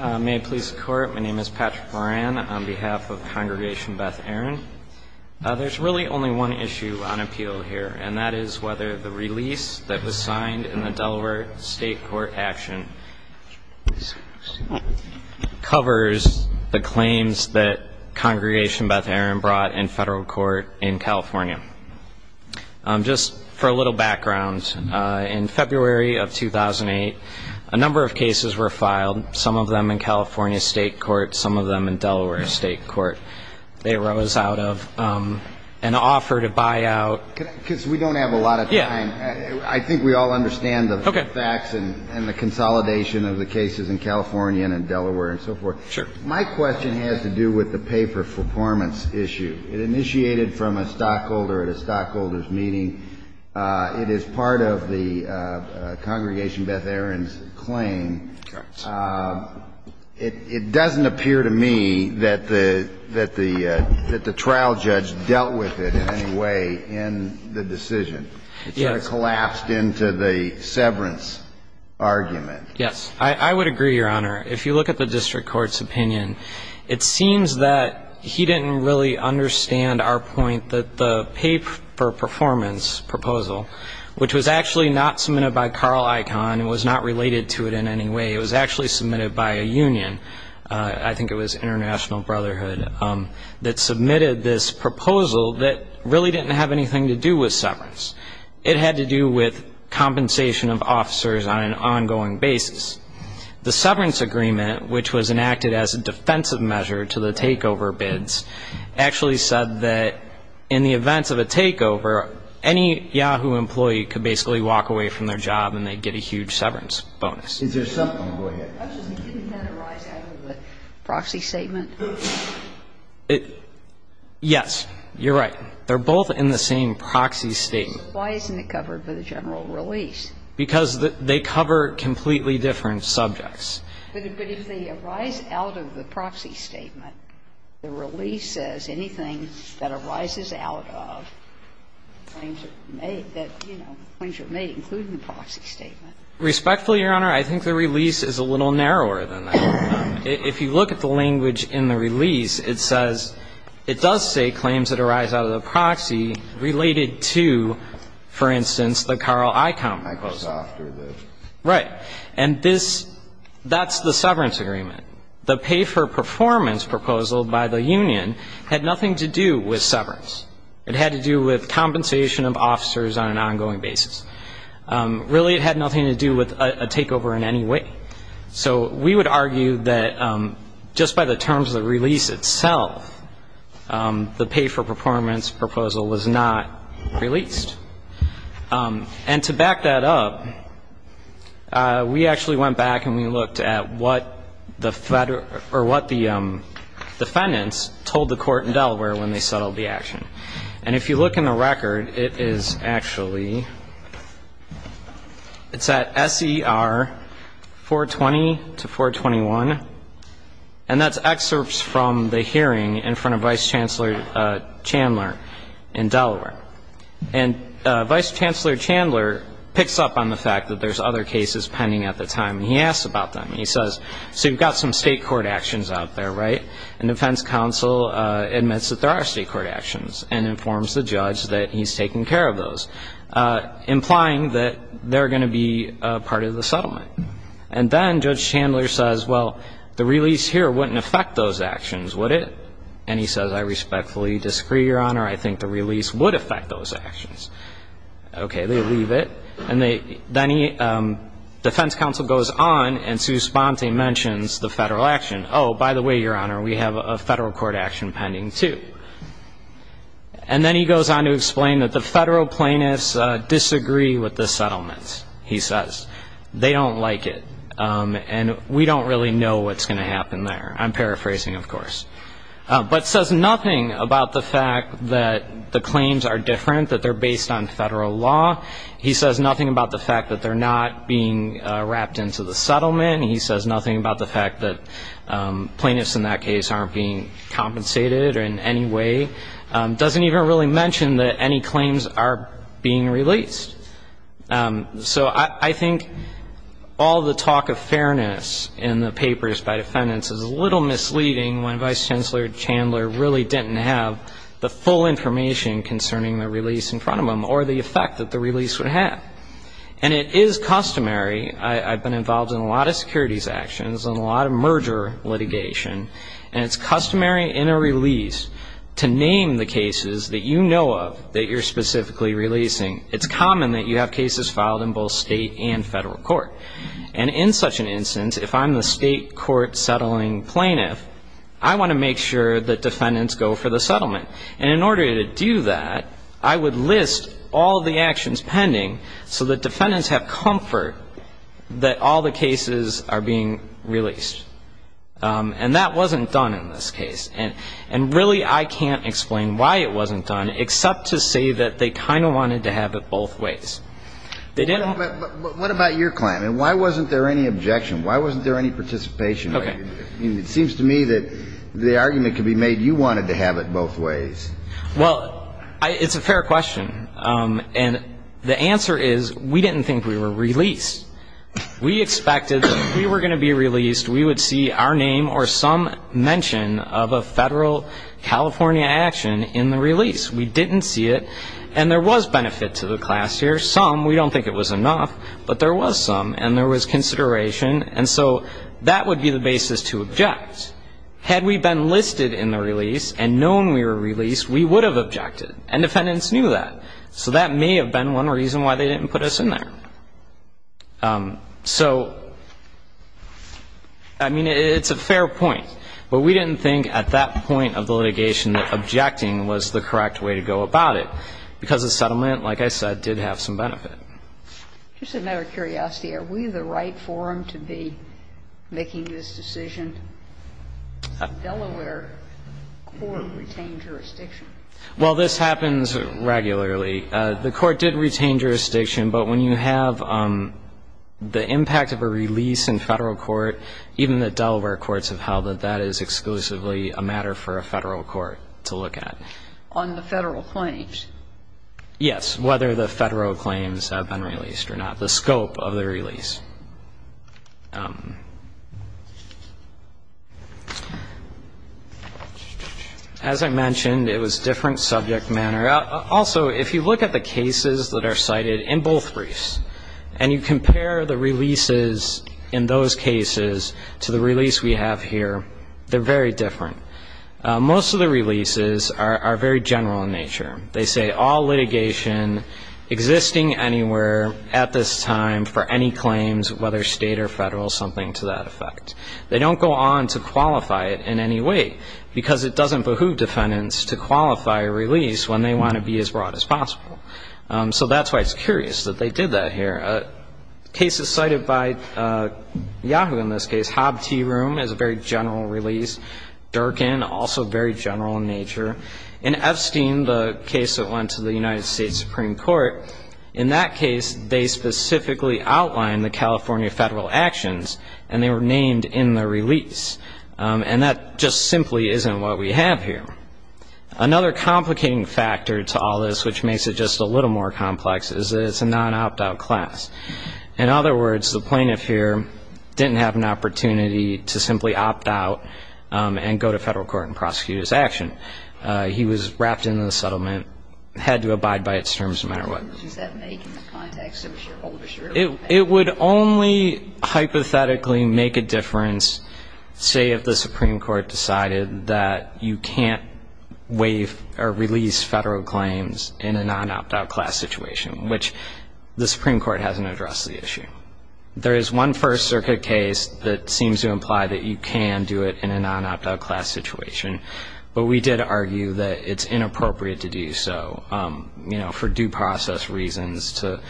May it please the court my name is Patrick Moran on behalf of Congregation Beth Aaron. There's really only one issue on appeal here and that is whether the release that was signed in the Delaware State Court action covers the claims that Congregation Beth Aaron brought in federal court in California. Just for a background in February of 2008 a number of cases were filed some of them in California State Court some of them in Delaware State Court. They rose out of an offer to buy out. Because we don't have a lot of time I think we all understand the facts and the consolidation of the cases in California and in Delaware and so forth. Sure. My question has to do with the paper performance issue. It initiated from a stockholder at a stockholder's meeting. It is part of the Congregation Beth Aaron's claim. Correct. It doesn't appear to me that the trial judge dealt with it in any way in the decision. Yes. It sort of collapsed into the severance argument. Yes. I would agree, Your Honor. If you look at the district our point that the paper performance proposal, which was actually not submitted by Carl Icahn and was not related to it in any way, it was actually submitted by a union, I think it was International Brotherhood, that submitted this proposal that really didn't have anything to do with severance. It had to do with compensation of officers on an ongoing basis. The severance agreement, which was actually said that in the events of a takeover, any Yahoo! employee could basically walk away from their job and they'd get a huge severance bonus. Is there something? Go ahead. Actually, didn't that arise out of the proxy statement? Yes. You're right. They're both in the same proxy statement. Why isn't it covered by the general release? Because they cover completely different subjects. But if they arise out of the proxy statement, the release says anything that arises out of claims that were made, that, you know, claims were made, including the proxy statement. Respectfully, Your Honor, I think the release is a little narrower than that. If you look at the language in the release, it says it does say claims that arise out of the proxy related to, for instance, the Carl Icahn case. Icahn was after this. Right. And this – that's the severance agreement. The pay for performance proposal by the union had nothing to do with severance. It had to do with compensation of officers on an ongoing basis. Really, it had nothing to do with a takeover in any way. So we would argue that just by the terms of the release itself, the pay for performance proposal was not released. And to back that up, we actually went back and we looked at what the – or what the defendants told the court in Delaware when they settled the action. And if you look in the record, it is actually – it's at SER 420 to 421. And that's excerpts from the hearing in front of Vice Chancellor Chandler in Delaware. And Vice Chancellor Chandler picks up on the fact that there's other cases pending at the time. He asks about them. He says, so you've got some state court actions out there, right? And defense counsel admits that there are state court actions and informs the judge that he's taking care of those, implying that they're going to be part of the settlement. And then Judge Chandler says, well, the release here wouldn't affect those actions, would it? And he says, I respectfully disagree, Your Honor. I think the release would affect those actions. Okay. They leave it. And they – then he – defense counsel goes on and Sue Sponte mentions the federal action. Oh, by the way, Your Honor, we have a federal court action pending, too. And then he goes on to explain that the federal plaintiffs disagree with the settlement, he says. They don't like it. And we don't really know what's going to happen there. I'm paraphrasing, of course. But says nothing about the fact that the claims are different, that they're based on federal law. He says nothing about the fact that they're not being wrapped into the settlement. He says nothing about the fact that plaintiffs in that case aren't being compensated in any way. Doesn't even really mention that any claims are being released. So I think all the talk of fairness in the papers by defendants is a little misleading when Vice Chancellor Chandler really didn't have the full information concerning the release in front of him or the effect that the release would have. And it is customary – I've been involved in a lot of securities actions and a lot of merger litigation – and it's customary in a release to name the cases that you know of that you're specifically releasing. It's common that you have cases filed in both state and federal court. And in such an instance, if I'm the state court settling plaintiff, I want to make sure that defendants go for the settlement. And in order to do that, I would list all the actions pending so that defendants have comfort that all the cases are being released. And that wasn't done in this case. And really, I can't explain why it wasn't done, except to say that they kind of wanted to have it both ways. They didn't – What about your claim? And why wasn't there any objection? Why wasn't there any participation? It seems to me that the argument could be made you wanted to have it both ways. Well, it's a fair question. And the answer is we didn't think we were released. We expected that if we were going to be released, we would see our name or some mention of a federal California action in the release. We didn't see it. And there was benefit to the class here. Some, we don't think it was enough. But there was some. And there was consideration. And so that would be the basis to object. Had we been listed in the release and known we were released, we would have objected. And defendants knew that. So that may have been one reason why they didn't put us in there. So I mean, it's a fair point. But we didn't think at that point of the litigation that objecting was the correct way to go about it. Because the Just another curiosity. Are we the right forum to be making this decision? Has the Delaware court retained jurisdiction? Well, this happens regularly. The court did retain jurisdiction. But when you have the impact of a release in Federal court, even the Delaware courts have held that that is exclusively a matter for a Federal court to look at. On the Federal claims? Yes. Whether the Federal claims have been released or not. The scope of the release. As I mentioned, it was different subject matter. Also, if you look at the cases that are cited in both briefs and you compare the releases in those cases to the release we have here, they're very different. Most of the releases are very general in nature. They say all litigation existing anywhere at this time for any claims, whether State or Federal, something to that effect. They don't go on to qualify it in any way. Because it doesn't behoove defendants to qualify a release when they want to be as broad as possible. So that's why it's curious that they did that here. Cases cited by Yahoo in this case, Hob T. Room is a very general release. Durkin, also very general in nature. In Epstein, the case that went to the United States Supreme Court, in that case, they specifically outlined the California Federal actions and they were named in the release. And that just simply isn't what we have here. Another complicating factor to all this, which makes it just a little more complex, is that it's a non-opt-out class. In other words, the plaintiff here didn't have an opportunity to simply opt out and go to Federal court and prosecute his action. He was wrapped into the settlement, had to abide by its terms no matter what. It would only hypothetically make a difference, say, if the Supreme Court decided that you can't waive or release Federal claims in a non-opt-out class situation, which the Supreme Court hasn't addressed the issue. There is one First Circuit case that seems to imply that you can do it in a non-opt-out class situation. But we did argue that it's inappropriate to do so, you know, for due process reasons, to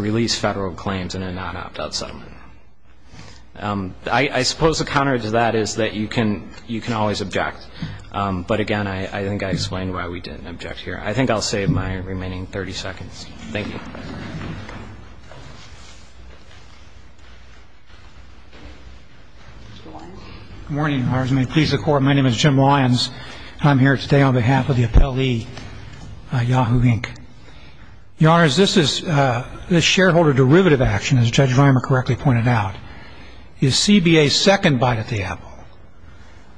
release Federal claims in a non-opt-out settlement. I suppose the counter to that is that you can always object. But again, I think I explained why we didn't object here. I think I'll save my remaining 30 seconds. Thank you. Good morning, Your Honors. May it please the Court, my name is Jim Lyons. I'm here today on behalf of the appellee, Yahoo, Inc. Your Honors, this shareholder derivative action, as Judge Vimer correctly pointed out, is CBA's second bite at the apple.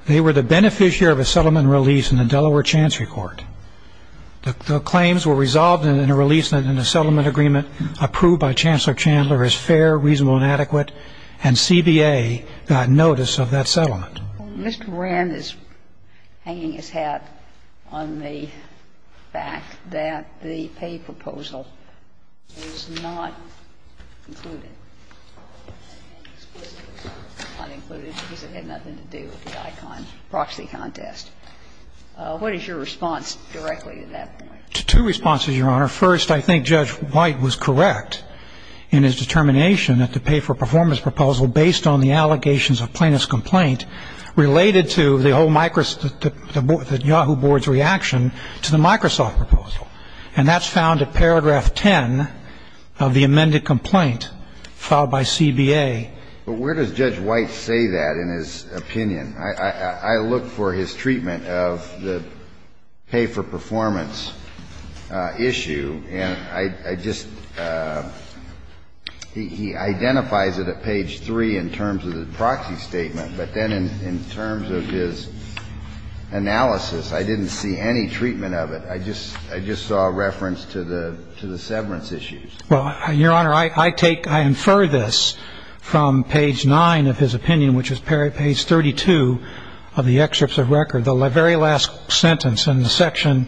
They were the beneficiary of a settlement release in the Delaware Chancery Court. The claims were resolved in a release in a reasonable and adequate, and CBA got notice of that settlement. Mr. Brand is hanging his hat on the fact that the pay proposal is not included, and explicitly is not included because it had nothing to do with the Icon proxy contest. What is your response directly to that point? Two responses, Your Honor. First, I think Judge White was correct in his determination that the pay for performance proposal, based on the allegations of plaintiff's complaint, related to the Yahoo board's reaction to the Microsoft proposal. And that's found at paragraph 10 of the amended complaint filed by CBA. But where does Judge White say that in his opinion? I looked for his treatment of the pay for performance issue, and I just ‑‑ he identifies it at page 3 in terms of the proxy statement, but then in terms of his analysis, I didn't see any treatment of it. I just saw a reference to the severance issues. Well, Your Honor, I take ‑‑ I infer this from page 9 of his opinion, which is page 32 of the excerpts of record, the very last sentence in the section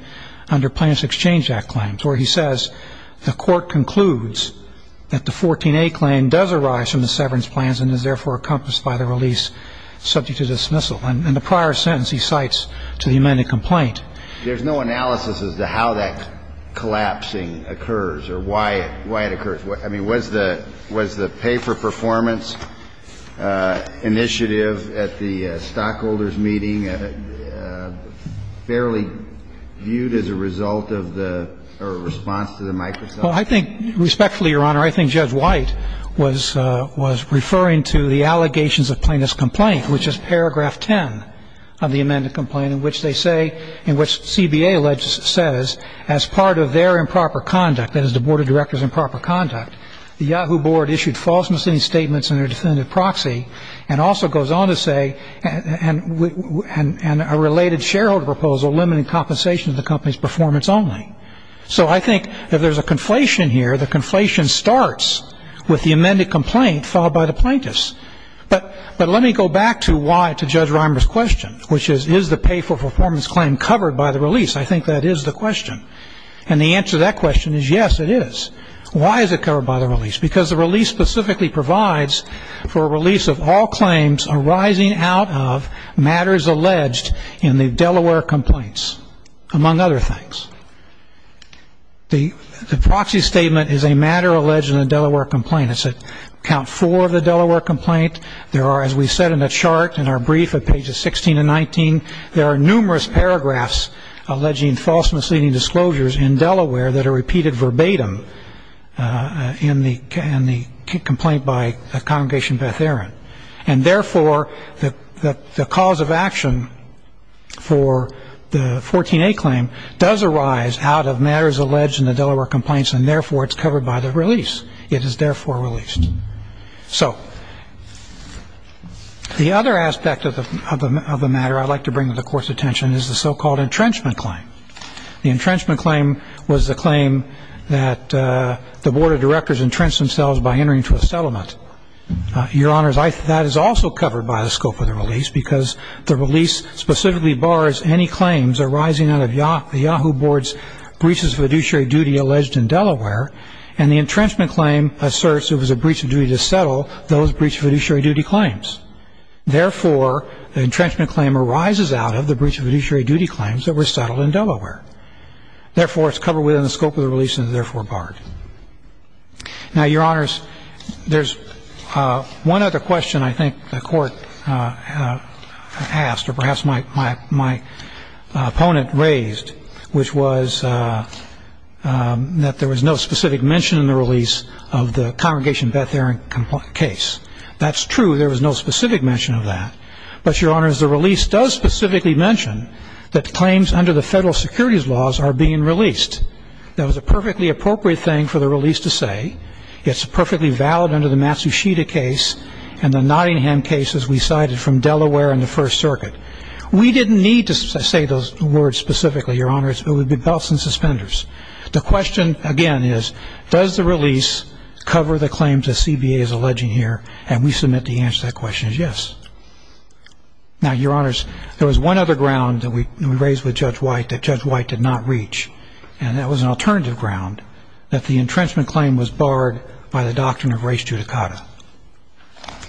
under Plaintiff's Exchange Act claims, where he says the court concludes that the 14A claim does arise from the severance plans and is therefore encompassed by the release subject to dismissal. In the prior sentence, he cites to the amended complaint. There's no analysis as to how that collapsing occurs or why it occurs. I mean, was the pay for performance initiative at the stockholders' meeting fairly viewed as a result of the response to the Microsoft? Well, I think respectfully, Your Honor, I think Judge White was referring to the allegations of plaintiff's complaint, which is paragraph 10 of the amended complaint, in which they say ‑‑ in which CBA alleges ‑‑ says as part of their improper conduct, that is, the Board of Directors' improper conduct, the Yahoo! Board issued false missing statements in their definitive proxy, and also goes on to say, and a related shareholder proposal limiting compensation to the company's performance only. So I think if there's a conflation here, the conflation starts with the amended complaint filed by the plaintiffs. But let me go back to why ‑‑ to Judge Reimer's question, which is, is the pay for performance claim covered by the release? I think that is the question. And the answer to that question is, yes, it is. Why is it covered by the release? Because the release specifically provides for a release of all claims arising out of matters alleged in the Delaware complaints, among other things. The proxy statement is a matter alleged in the Delaware complaint. It's at count four of the Delaware complaint. There are, as we said in the chart, in our brief at pages 16 and 19, there are numerous paragraphs alleging false misleading disclosures in Delaware that are repeated verbatim in the complaint by Congregation Beth Aaron. And therefore, the cause of action for the 14A claim does arise out of matters alleged in the Delaware complaints, and therefore it's covered by the release. It is therefore released. So the other aspect of the matter I'd like to bring to the Court's attention is the so-called entrenchment claim. The entrenchment claim was the claim that the Board of Directors entrenched themselves by entering into a settlement. Your Honors, that is also covered by the scope of the release, because the release specifically bars any claims arising out of the Yahoo Board's breaches of fiduciary duty alleged in Delaware. And the entrenchment claim asserts it was a breach of duty to settle those breaches of fiduciary duty claims. Therefore, the entrenchment claim arises out of the breach of fiduciary duty claims that were settled in Delaware. Therefore, it's covered within the scope of the release and is therefore barred. Now, Your Honors, there's one other question I think the Court asked, or perhaps my opponent raised, which was that there was no specific mention in the release of the Congregation Beth-Aaron case. That's true. There was no specific mention of that. But, Your Honors, the release does specifically mention that claims under the federal securities laws are being released. That was a perfectly appropriate thing for the release to say. It's perfectly valid under the Matsushita case and the Nottingham case, as we cited, from Delaware and the First Circuit. We didn't need to say those words specifically, Your Honors. It would be belts and suspenders. The question, again, is does the release cover the claims that CBA is alleging here? And we submit the answer to that question is yes. Now, Your Honors, there was one other ground that we raised with Judge White that Judge White did not reach, and that was an alternative ground, that the entrenchment claim was barred by the doctrine of res judicata.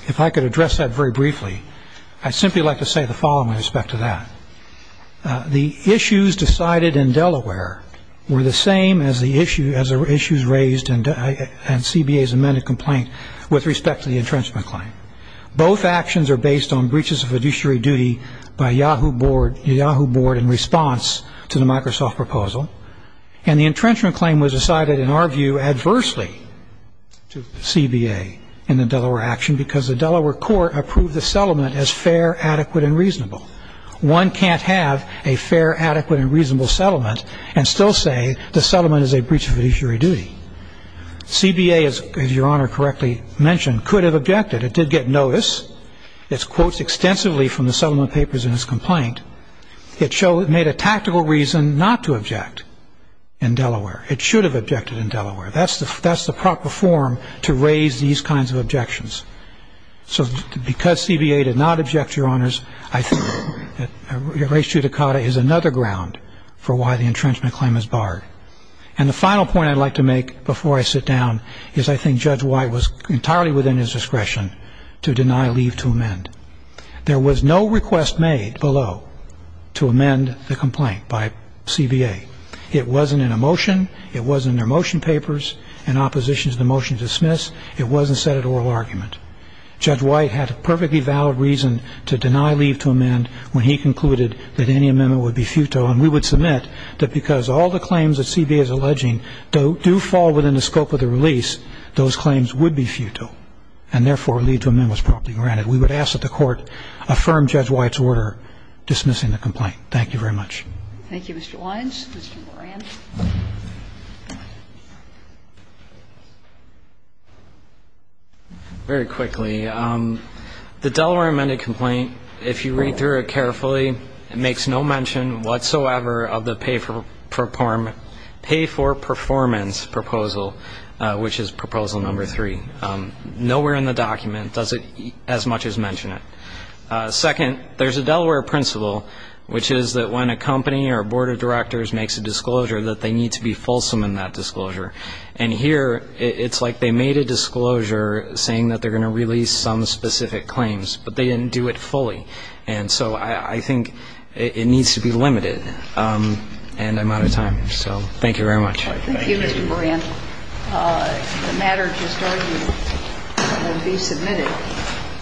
If I could address that very briefly, I'd simply like to say the following with respect to that. The issues decided in Delaware were the same as the issues raised in CBA's amended complaint with respect to the entrenchment claim. Both actions are based on breaches of fiduciary duty by Yahoo Board in response to the Microsoft proposal. And the entrenchment claim was decided, in our view, adversely to CBA in the Delaware action because the Delaware court approved the settlement as fair, adequate, and reasonable. One can't have a fair, adequate, and reasonable settlement and still say the settlement is a breach of fiduciary duty. CBA, as Your Honor correctly mentioned, could have objected. It did get notice. It's quotes extensively from the settlement papers in its complaint. It made a tactical reason not to object in Delaware. It should have objected in Delaware. That's the proper form to raise these kinds of objections. So because CBA did not object, Your Honors, I think res judicata is another ground for why the entrenchment claim is barred. And the final point I'd like to make before I sit down is I think Judge White was entirely within his discretion to deny leave to amend. There was no request made below to amend the complaint by CBA. It wasn't in a motion. It wasn't in their motion papers. In opposition to the motion to dismiss, it wasn't set at oral argument. Judge White had a perfectly valid reason to deny leave to amend when he concluded that any amendment would be futile. And we would submit that because all the claims that CBA is alleging do fall within the scope of the release, those claims would be futile and, therefore, leave to amend was properly granted. We would ask that the Court affirm Judge White's order dismissing the complaint. Thank you very much. Thank you, Mr. Lyons. Mr. Moran. Very quickly, the Delaware amended complaint, if you read through it carefully, it makes no mention whatsoever of the pay for performance proposal, which is proposal number three. Nowhere in the document does it as much as mention it. Second, there's a Delaware principle, which is that when a company or a board of directors makes a disclosure, that they need to be fulsome in that disclosure. And here it's like they made a disclosure saying that they're going to release some specific claims, but they didn't do it fully. And so I think it needs to be limited. And I'm out of time. So thank you very much. Thank you, Mr. Moran. The matter is recorded and will be submitted.